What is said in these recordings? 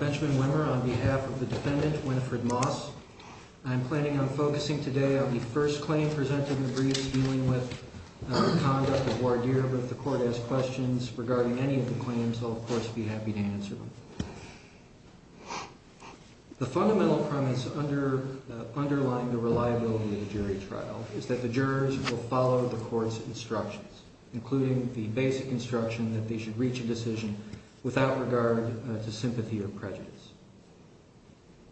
Benjamin Wimmer on behalf of the defendant, Winifred Moss, I'm planning on focusing today on the first claim presented in the briefs dealing with the conduct of voir dire with the court-asked questions regarding any of the claims. I'll, of course, be happy to answer them. The fundamental premise underlying the reliability of a jury trial is that the jurors will follow the court's instructions, including the basic instruction that they should reach a decision without regard to sympathy or prejudice.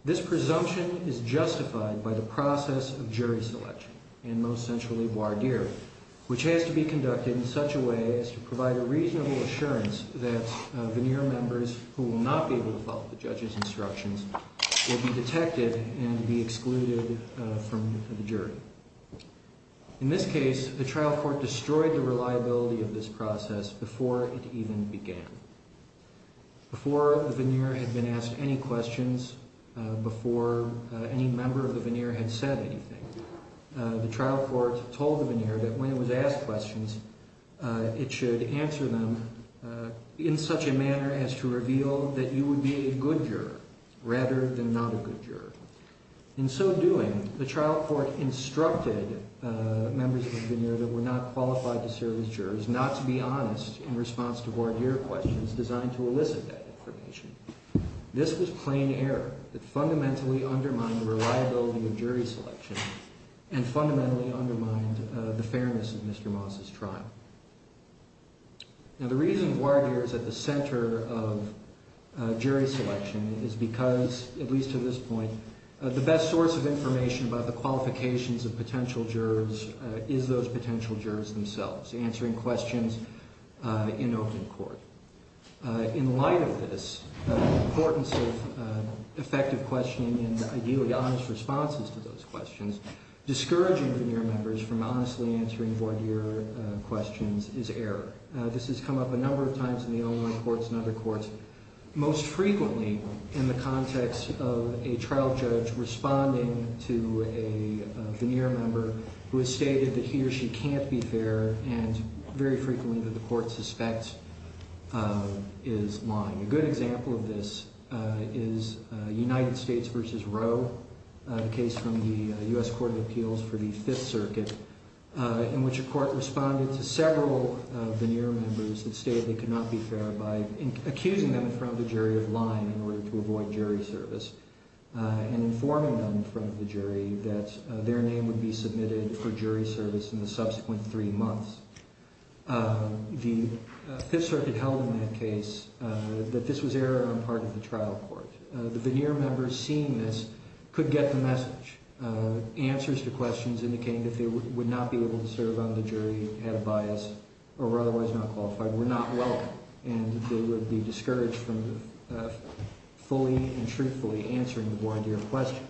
This presumption is justified by the process of jury selection, and most centrally, voir dire, which has to be conducted in such a way as to provide a reasonable assurance that veneer members who will not be able to follow the judge's instructions will be detected and be excluded from the jury. In this case, the trial court destroyed the reliability of this process before it even began. Before the veneer had been asked any questions, before any member of the veneer had said anything, the trial court told the veneer that when it was asked questions, it should answer them in such a manner as to reveal that you would be a good juror rather than not a good juror. In so doing, the trial court instructed members of the veneer that were not qualified to serve as jurors not to be honest in response to voir dire questions designed to elicit that information. This was plain error that fundamentally undermined the reliability of jury selection and fundamentally undermined the fairness of Mr. Moss's trial. Now, the reason voir dire is at the center of jury selection is because, at least to this point, the best source of information about the qualifications of potential jurors is those potential jurors themselves, answering questions in open court. In light of this, the importance of effective questioning and, ideally, honest responses to those questions, discouraging veneer members from honestly answering voir dire questions is error. This has come up a number of times in the O1 courts and other courts, most frequently in the context of a trial judge responding to a veneer member who has stated that he or she can't be fair and, very frequently, that the court suspects is lying. A good example of this is United States v. Roe, the case from the U.S. Court of Appeals for the Fifth Circuit, in which a court responded to several veneer members that stated they could not be fair by accusing them in front of the jury of lying in order to avoid jury service, and informing them in front of the jury that their name would be submitted for jury service in the subsequent three months. The Fifth Circuit held in that case that this was error on the part of the trial court. The veneer members seeing this could get the message. Answers to questions indicating that they would not be able to serve on the jury, had a bias, or were otherwise not qualified, were not welcome, and they would be discouraged from fully and truthfully answering the blind ear questions.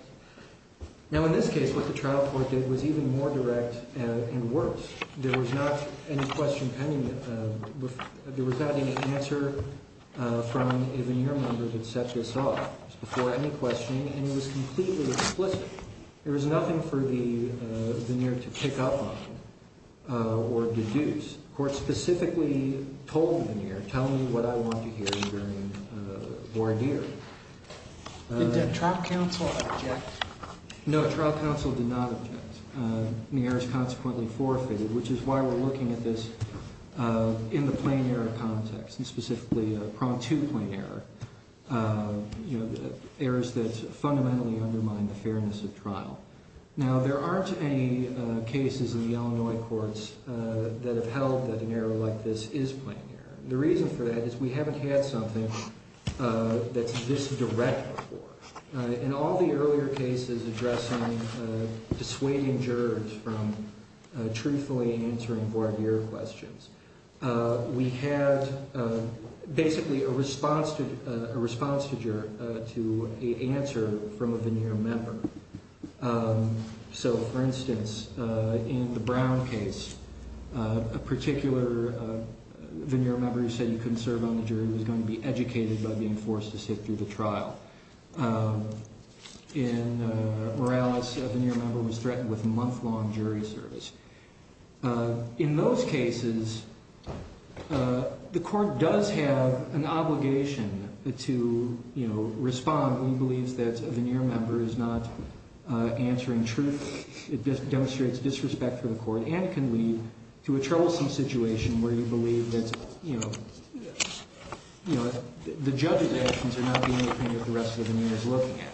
Now, in this case, what the trial court did was even more direct and worse. There was not any question pending, there was not any answer from a veneer member that set this off. It was before any questioning, and it was completely explicit. There was nothing for the veneer to pick up on, or deduce. The court specifically told the veneer, tell me what I want to hear during voir dire. Did the trial counsel object? No, the trial counsel did not object. And the error was consequently forfeited, which is why we're looking at this in the plain error context, and specifically a prompt to plain error. Errors that fundamentally undermine the fairness of trial. Now, there aren't any cases in the Illinois courts that have held that an error like this is plain error. The reason for that is we haven't had something that's this direct before. In all the earlier cases addressing dissuading jurors from truthfully answering voir dire questions, we had basically a response to a juror to an answer from a veneer member. So, for instance, in the Brown case, a particular veneer member who said you couldn't serve on the jury was going to be educated by being forced to sit through the trial. In Morales, a veneer member was threatened with a month-long jury service. In those cases, the court does have an obligation to respond when it believes that a veneer member is not answering truthfully. It just demonstrates disrespect for the court and can lead to a troublesome situation where you believe that, you know, the judge's actions are not being the kind that the rest of the veneer is looking at.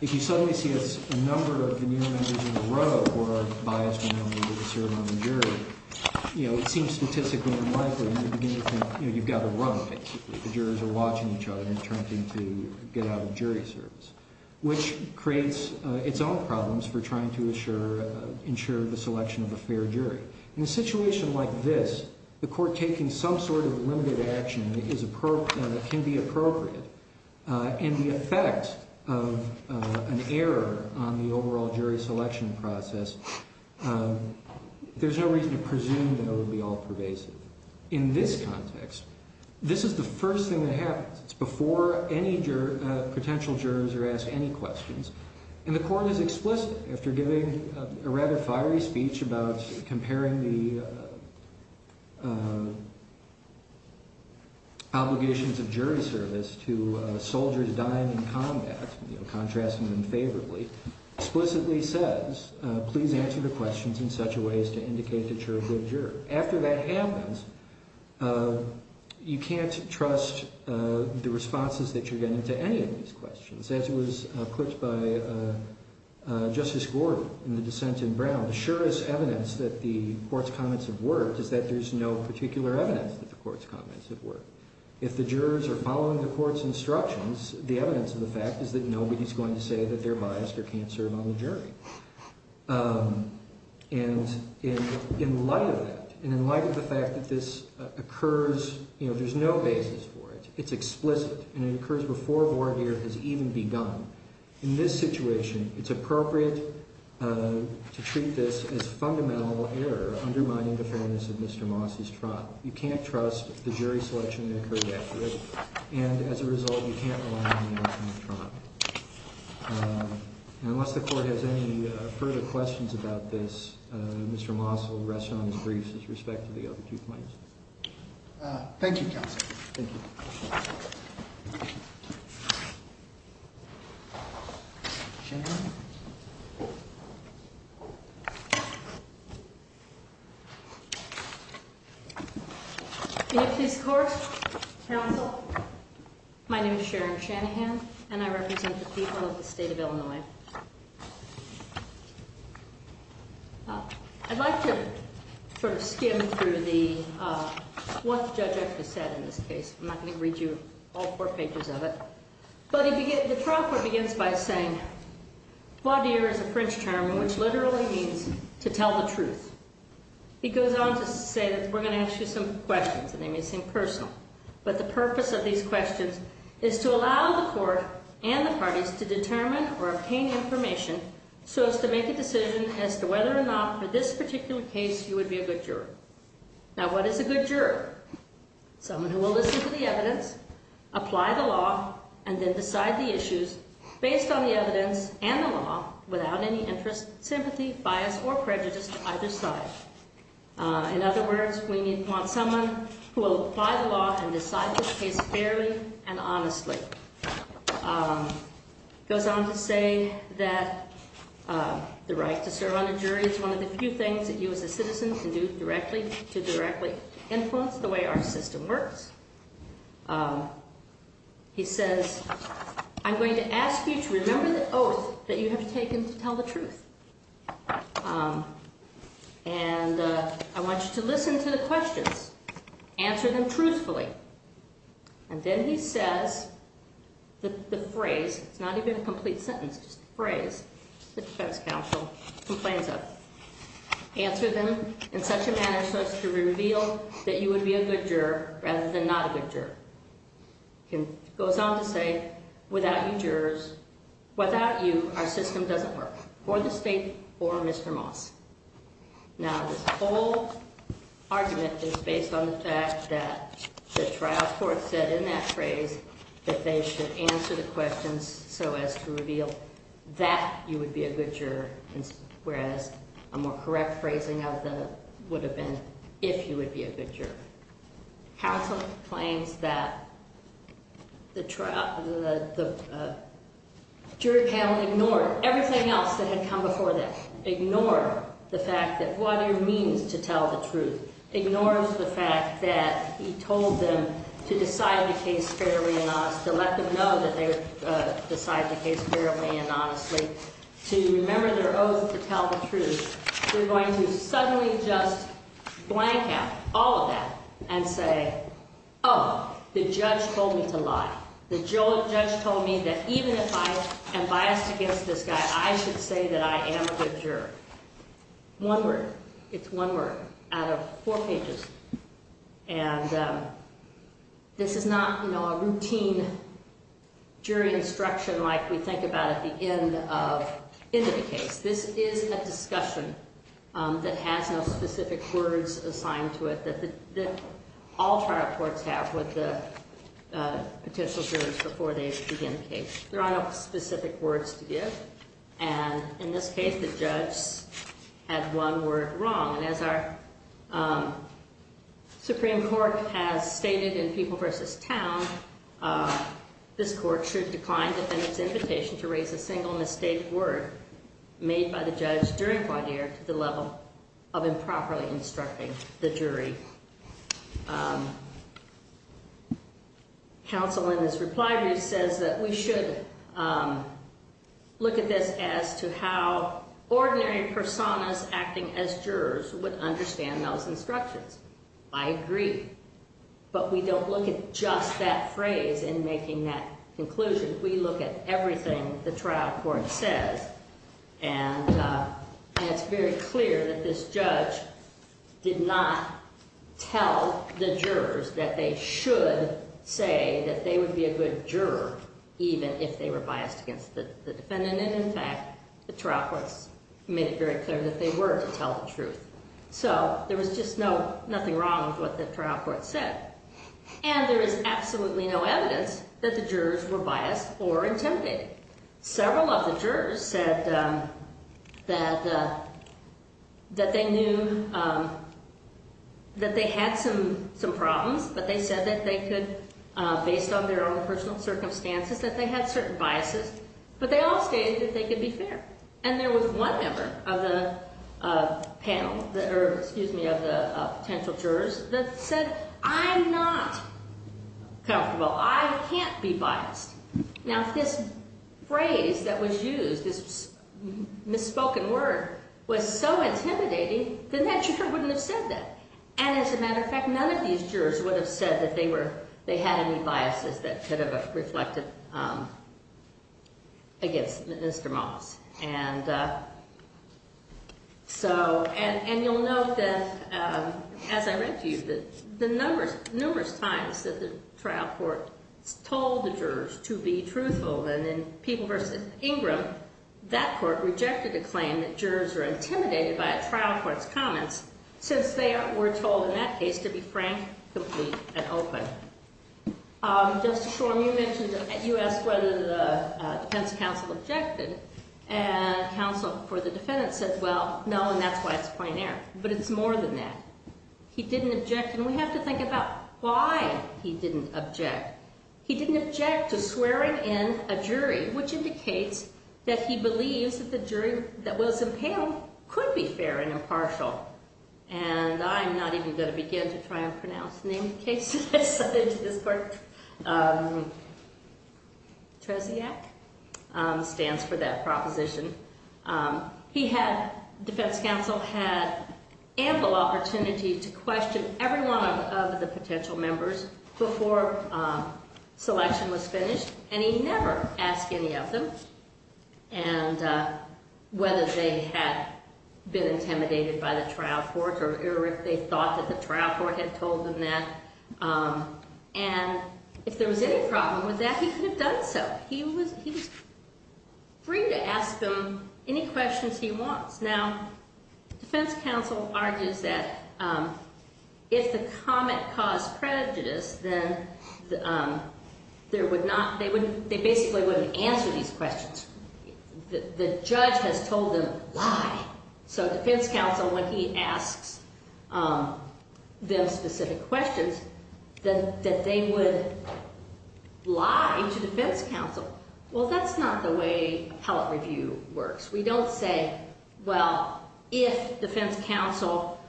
If you suddenly see a number of veneer members in a row who are biased when it comes to serving on the jury, you know, it seems statistically unlikely. And you begin to think, you know, you've got to run, basically. The jurors are watching each other and attempting to get out of jury service, which creates its own problems for trying to ensure the selection of a fair jury. In a situation like this, the court taking some sort of limited action that can be appropriate and the effect of an error on the overall jury selection process, there's no reason to presume that it will be all pervasive. In this context, this is the first thing that the court does. It doesn't question the jurors or ask any questions. And the court is explicit after giving a rather fiery speech about comparing the obligations of jury service to soldiers dying in combat, you know, contrasting them favorably, explicitly says, please answer the questions in such a way as to indicate that you're a good juror. After that happens, you can't trust the responses that you're getting to any of these questions. As it was put by Justice Gordon in the dissent in Brown, the surest evidence that the court's comments have worked is that there's no particular evidence that the court's comments have worked. If the jurors are following the court's instructions, the evidence of the fact is that nobody's going to say that they're biased or can't serve on the jury. And in light of that, and this occurs, you know, there's no basis for it. It's explicit. And it occurs before a warrant here has even begun. In this situation, it's appropriate to treat this as fundamental error undermining the fairness of Mr. Moss's trial. You can't trust the jury selection that occurred after it. And as a result, you can't rely on the outcome of trial. And unless the court has any further questions about this, Mr. Moss will rest on his griefs with respect to the other two points. Thank you, Counsel. Thank you. Shanahan? In a please court, Counsel, my name is Sharon Shanahan, and I represent the people of the I'm not going to read you all four pages of it. But the trial court begins by saying, voir dire is a French term which literally means to tell the truth. It goes on to say that we're going to ask you some questions, and they may seem personal. But the purpose of these questions is to allow the court and the parties to determine or obtain information so as to make a decision as to whether or not for this particular case you would be a good juror. Now, what is a good juror? Someone who will listen to the evidence, apply the law, and then decide the issues based on the evidence and the law without any interest, sympathy, bias, or prejudice to either side. In other words, we want someone who will apply the law and decide this case fairly and honestly. It goes on to say that the right to serve on the jury is one of the few things that you as a citizen can do directly to directly influence the way our system works. He says, I'm going to ask you to remember the oath that you have taken to tell the truth. And I want you to listen to the questions, answer them truthfully. And then he says the phrase, it's not even a complete sentence, just a phrase that the defense counsel complains of, answer them in such a manner so as to reveal that you would be a good juror rather than not a good juror. It goes on to say without you jurors, without you, our system doesn't work for the state or Mr. Moss. Now, this whole argument is based on the fact that the trial court said in that phrase that they should answer the questions so as to reveal that you would be a good juror, whereas a more correct phrasing of that would have been if you would be a good juror. Counsel claims that the jury panel ignored everything else that had come before that, ignored the means to tell the truth, ignored the fact that he told them to decide the case fairly and honestly, to let them know that they decided the case fairly and honestly, to remember their oath to tell the truth. They're going to suddenly just blank out all of that and say, oh, the judge told me to lie. The judge told me that even if I am biased against this I should say that I am a good juror. One word. It's one word out of four pages. And this is not, you know, a routine jury instruction like we think about at the end of the case. This is a discussion that has no specific words assigned to it that all trial courts have with the potential jurors before they begin the case. There are no specific words to give. And in this case the judge had one word wrong. And as our Supreme Court has stated in People v. Town, this court should decline defendant's invitation to raise a single mistake word made by the judge during voir dire to the level of improperly instructing the jury. Counsel in this reply brief says that we should look at this as to how ordinary personas acting as jurors would understand those instructions. I agree. But we don't look at just that phrase in making that conclusion. We look at everything the trial court says. And it's very clear that this judge did not tell the jurors that they should say that they would be a good juror even if they were biased against the defendant. And, in fact, the trial courts made it very clear that they were to tell the truth. So there was just no, nothing wrong with what the trial court said. And there is absolutely no evidence that the jurors were biased or intimidated. Several of the jurors said that they knew that they had some problems, but they said that they could, based on their own personal circumstances, that they had certain biases. But they all stated that they could be fair. And there was one member of the panel, or excuse me, of the potential jurors that said I'm not comfortable. I can't be biased. Now, if this phrase that was used, this misspoken word, was so intimidating, then that juror wouldn't have said that. And, as a matter of fact, none of these jurors would have said that they were, they had any biases that could have reflected against Mr. Moss. And so, and you'll note that, as I read to you, that the numbers, numerous times that the trial court told the jurors to be truthful, and in People v. Ingram, that court rejected the claim that jurors are intimidated by a trial court's comments, since they were told in that case to be frank, complete, and open. Justice Shorm, you mentioned, you asked whether the defense counsel objected, and counsel for the defendant said, well, no, and that's why it's a plain error. But it's more than that. He didn't object, and we have to think about why he didn't object. He didn't object to swearing in a jury, which indicates that he believes that the jury that was impaled could be fair and impartial. And I'm not even going to begin to try and pronounce the name of the case that I sent into this court. Tresiak stands for that proposition. He had, defense counsel had ample opportunity to question every one of the potential members before selection was finished, and he never asked any of them whether they had been intimidated by the trial court or if they thought that the trial court had told them that. And if there was any problem with that, he could have done so. He was free to ask them any questions he wants. Now, defense counsel argues that if the comment caused prejudice, then there would not, they basically wouldn't answer these questions. The judge has told them why. So defense counsel, when he asks them specific questions, that they would lie to defense counsel. Well, that's not the way appellate review works. We don't say, well, if defense counsel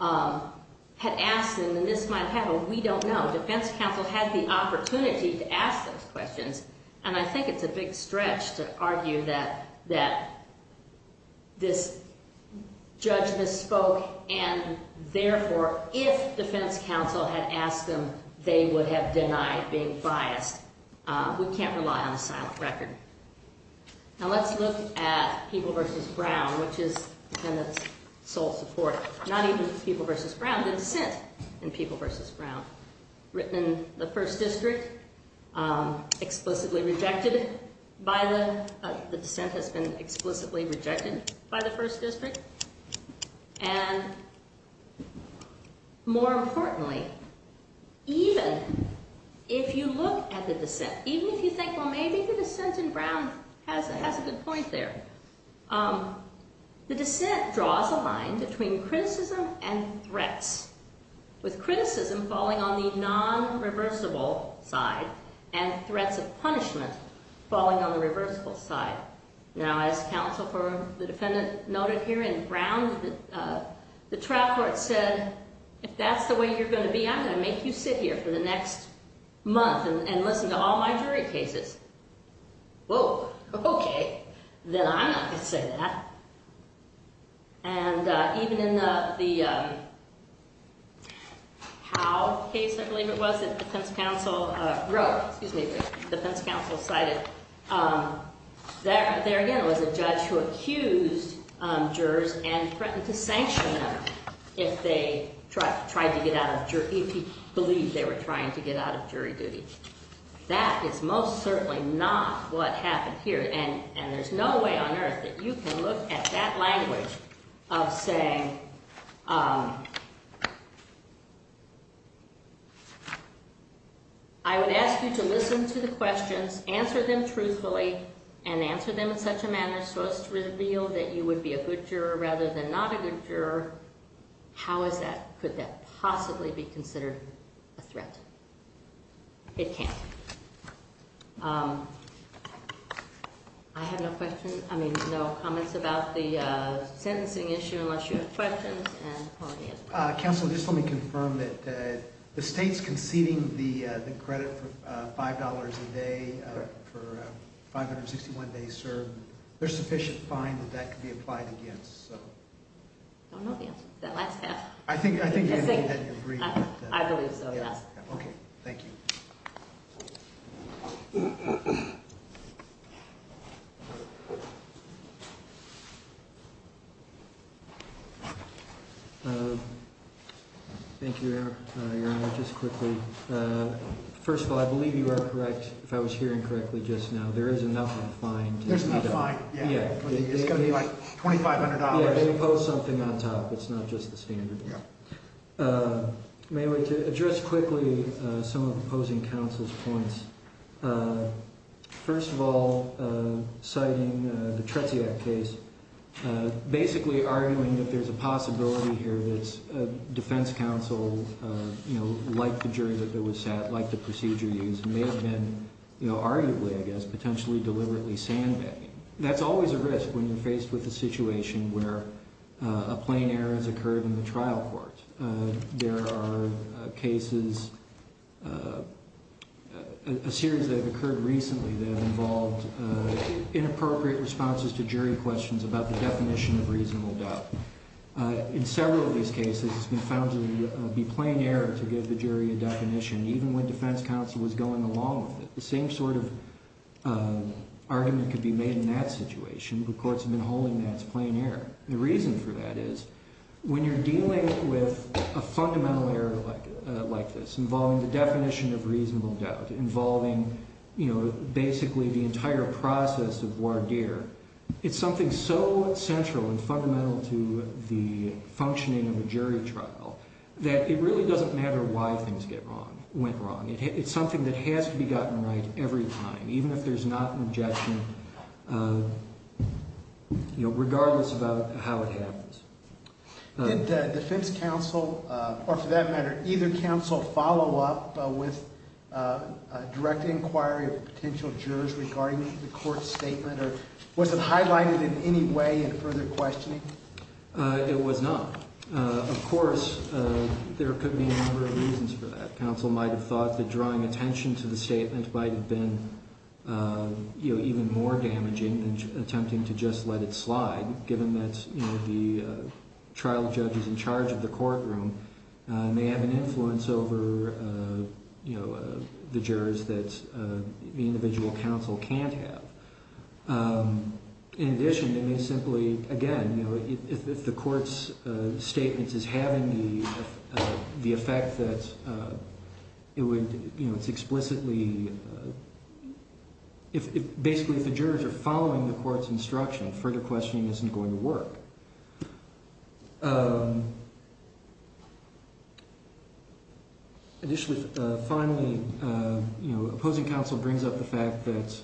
had asked them, and this might happen, we don't know. Defense counsel had the opportunity to ask those questions, and I think it's a big stretch to argue that this judge misspoke, and therefore, if defense counsel had asked them, they would have denied being biased. We can't rely on a silent record. Now, let's look at People v. Brown, which is, and it's sole support, not even People v. Brown, the dissent in People v. Brown, written in the first district, explicitly rejected by the, the dissent has been explicitly rejected by the first district, and more importantly, even if you look at the dissent, even if you think, well, maybe the dissent in Brown has a good point there, the dissent draws a line between criticism and threats, with criticism falling on the non-reversible side, and threats of punishment falling on the reversible side. Now, as counsel for the defendant noted here in Brown, the trial court said, if that's the way you're going to be, I'm going to make you sit here for the next month and listen to all my jury cases. Whoa, okay, then I'm not going to say that, and even in the, the Howe case, I believe it was, that defense counsel wrote, excuse me, defense counsel cited, there again was a judge who accused jurors and threatened to sanction them if they tried to get out of, if he believed they were trying to get out of jury duty. That is most certainly not what happened here, and, and there's no way on earth that you can look at that language of saying, I would ask you to listen to the questions, answer them truthfully, and answer them in such a manner so as to reveal that you would be a good juror rather than not a good juror. How is that, could that possibly be considered a threat? It can't. I have no questions, I mean, no comments about the sentencing issue unless you have questions. Counsel, just let me confirm that the state's conceding the credit for $5 a day for 561 days served, there's sufficient fine that that could be applied against, so. I don't know the answer to that last half. I think, I think you have to agree with that. I believe so, yes. Okay, thank you. Thank you, Your Honor, just quickly. First of all, I believe you are correct, if I was hearing correctly just now, there is enough on the fine. There's enough fine, yeah. It's going to be like $2,500. Yeah, they impose something on top, it's not just the standard. Yeah. Anyway, to address quickly some of the opposing counsel's points, first of all, citing the Tretsiak case, basically arguing that there's a possibility here that a defense counsel, you know, liked the jury that was sat, liked the procedure used, may have been, you know, arguably, I guess, potentially deliberately sandbagging. That's always a risk when you're faced with a situation where a plain error has occurred in the trial court. There are cases, a series that have occurred recently that have involved inappropriate responses to jury questions about the definition of reasonable doubt. In several of these cases, it's been found to be plain error to give the jury a definition, even when defense counsel was going along with it. The same sort of argument could be made in that situation, but courts have been holding that as plain error. The reason for that is, when you're dealing with a fundamental error like this, involving the definition of reasonable doubt, involving, you know, basically the entire process of voir dire, it's something so central and fundamental to the functioning of a jury trial that it really doesn't matter why things get wrong, went wrong. It's something that has to be gotten right every time, even if there's not an objection, you know, regardless about how it happens. Did the defense counsel, or for that matter, either counsel, follow up with a direct inquiry of potential jurors regarding the court's statement, or was it highlighted in any way in further questioning? It was not. Of course, there could be a number of reasons for that. Counsel might have thought that drawing attention to the statement might have been, you know, even more damaging than attempting to just let it slide, given that, you know, the trial judges in charge of the courtroom may have an influence over, you know, the jurors that the individual counsel can't have. In addition, they may simply, again, you know, if the court's statement is having the effect that it would, you know, it's explicitly, basically if the jurors are following the court's instruction, further questioning isn't going to work. Additionally, finally, you know, opposing counsel brings up the fact that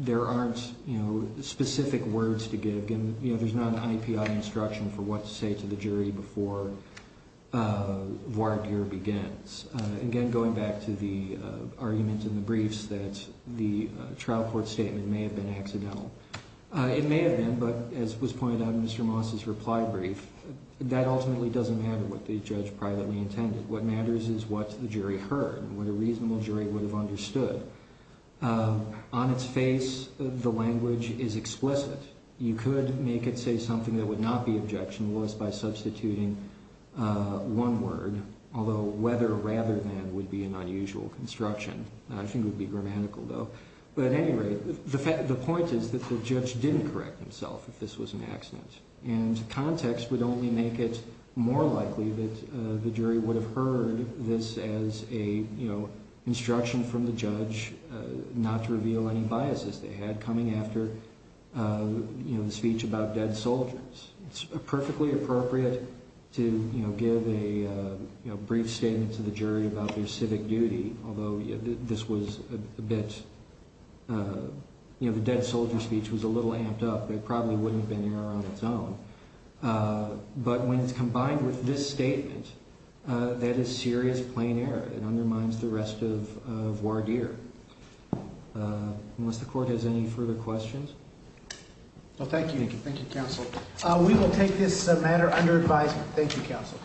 there aren't, you know, specific words to give. You know, there's not an IAPI instruction for what to say to the jury before voir dire begins. Again, going back to the argument in the briefs that the trial court statement may have been accidental. It may have been, but as was pointed out in Mr. Moss's reply brief, that ultimately doesn't matter what the judge privately intended. What matters is what the jury heard and what a reasonable jury would have understood. On its face, the language is explicit. You could make it say something that would not be objectionable as by substituting one word, although whether rather than would be an unusual construction. I think it would be grammatical, though. But at any rate, the point is that the judge didn't correct himself if this was an accident. And context would only make it more likely that the jury would have heard this as a, you know, instruction from the judge not to reveal any biases they had coming after, you know, the speech about dead soldiers. It's perfectly appropriate to, you know, give a, you know, brief statement to the jury about your civic duty, although this was a bit, you know, the dead soldier speech was a little amped up. There probably wouldn't have been error on its own. But when it's combined with this statement, that is serious plain error. It undermines the rest of voir dire. Unless the court has any further questions? Well, thank you. Thank you, counsel. We will take this matter under advisement. Thank you, counsel.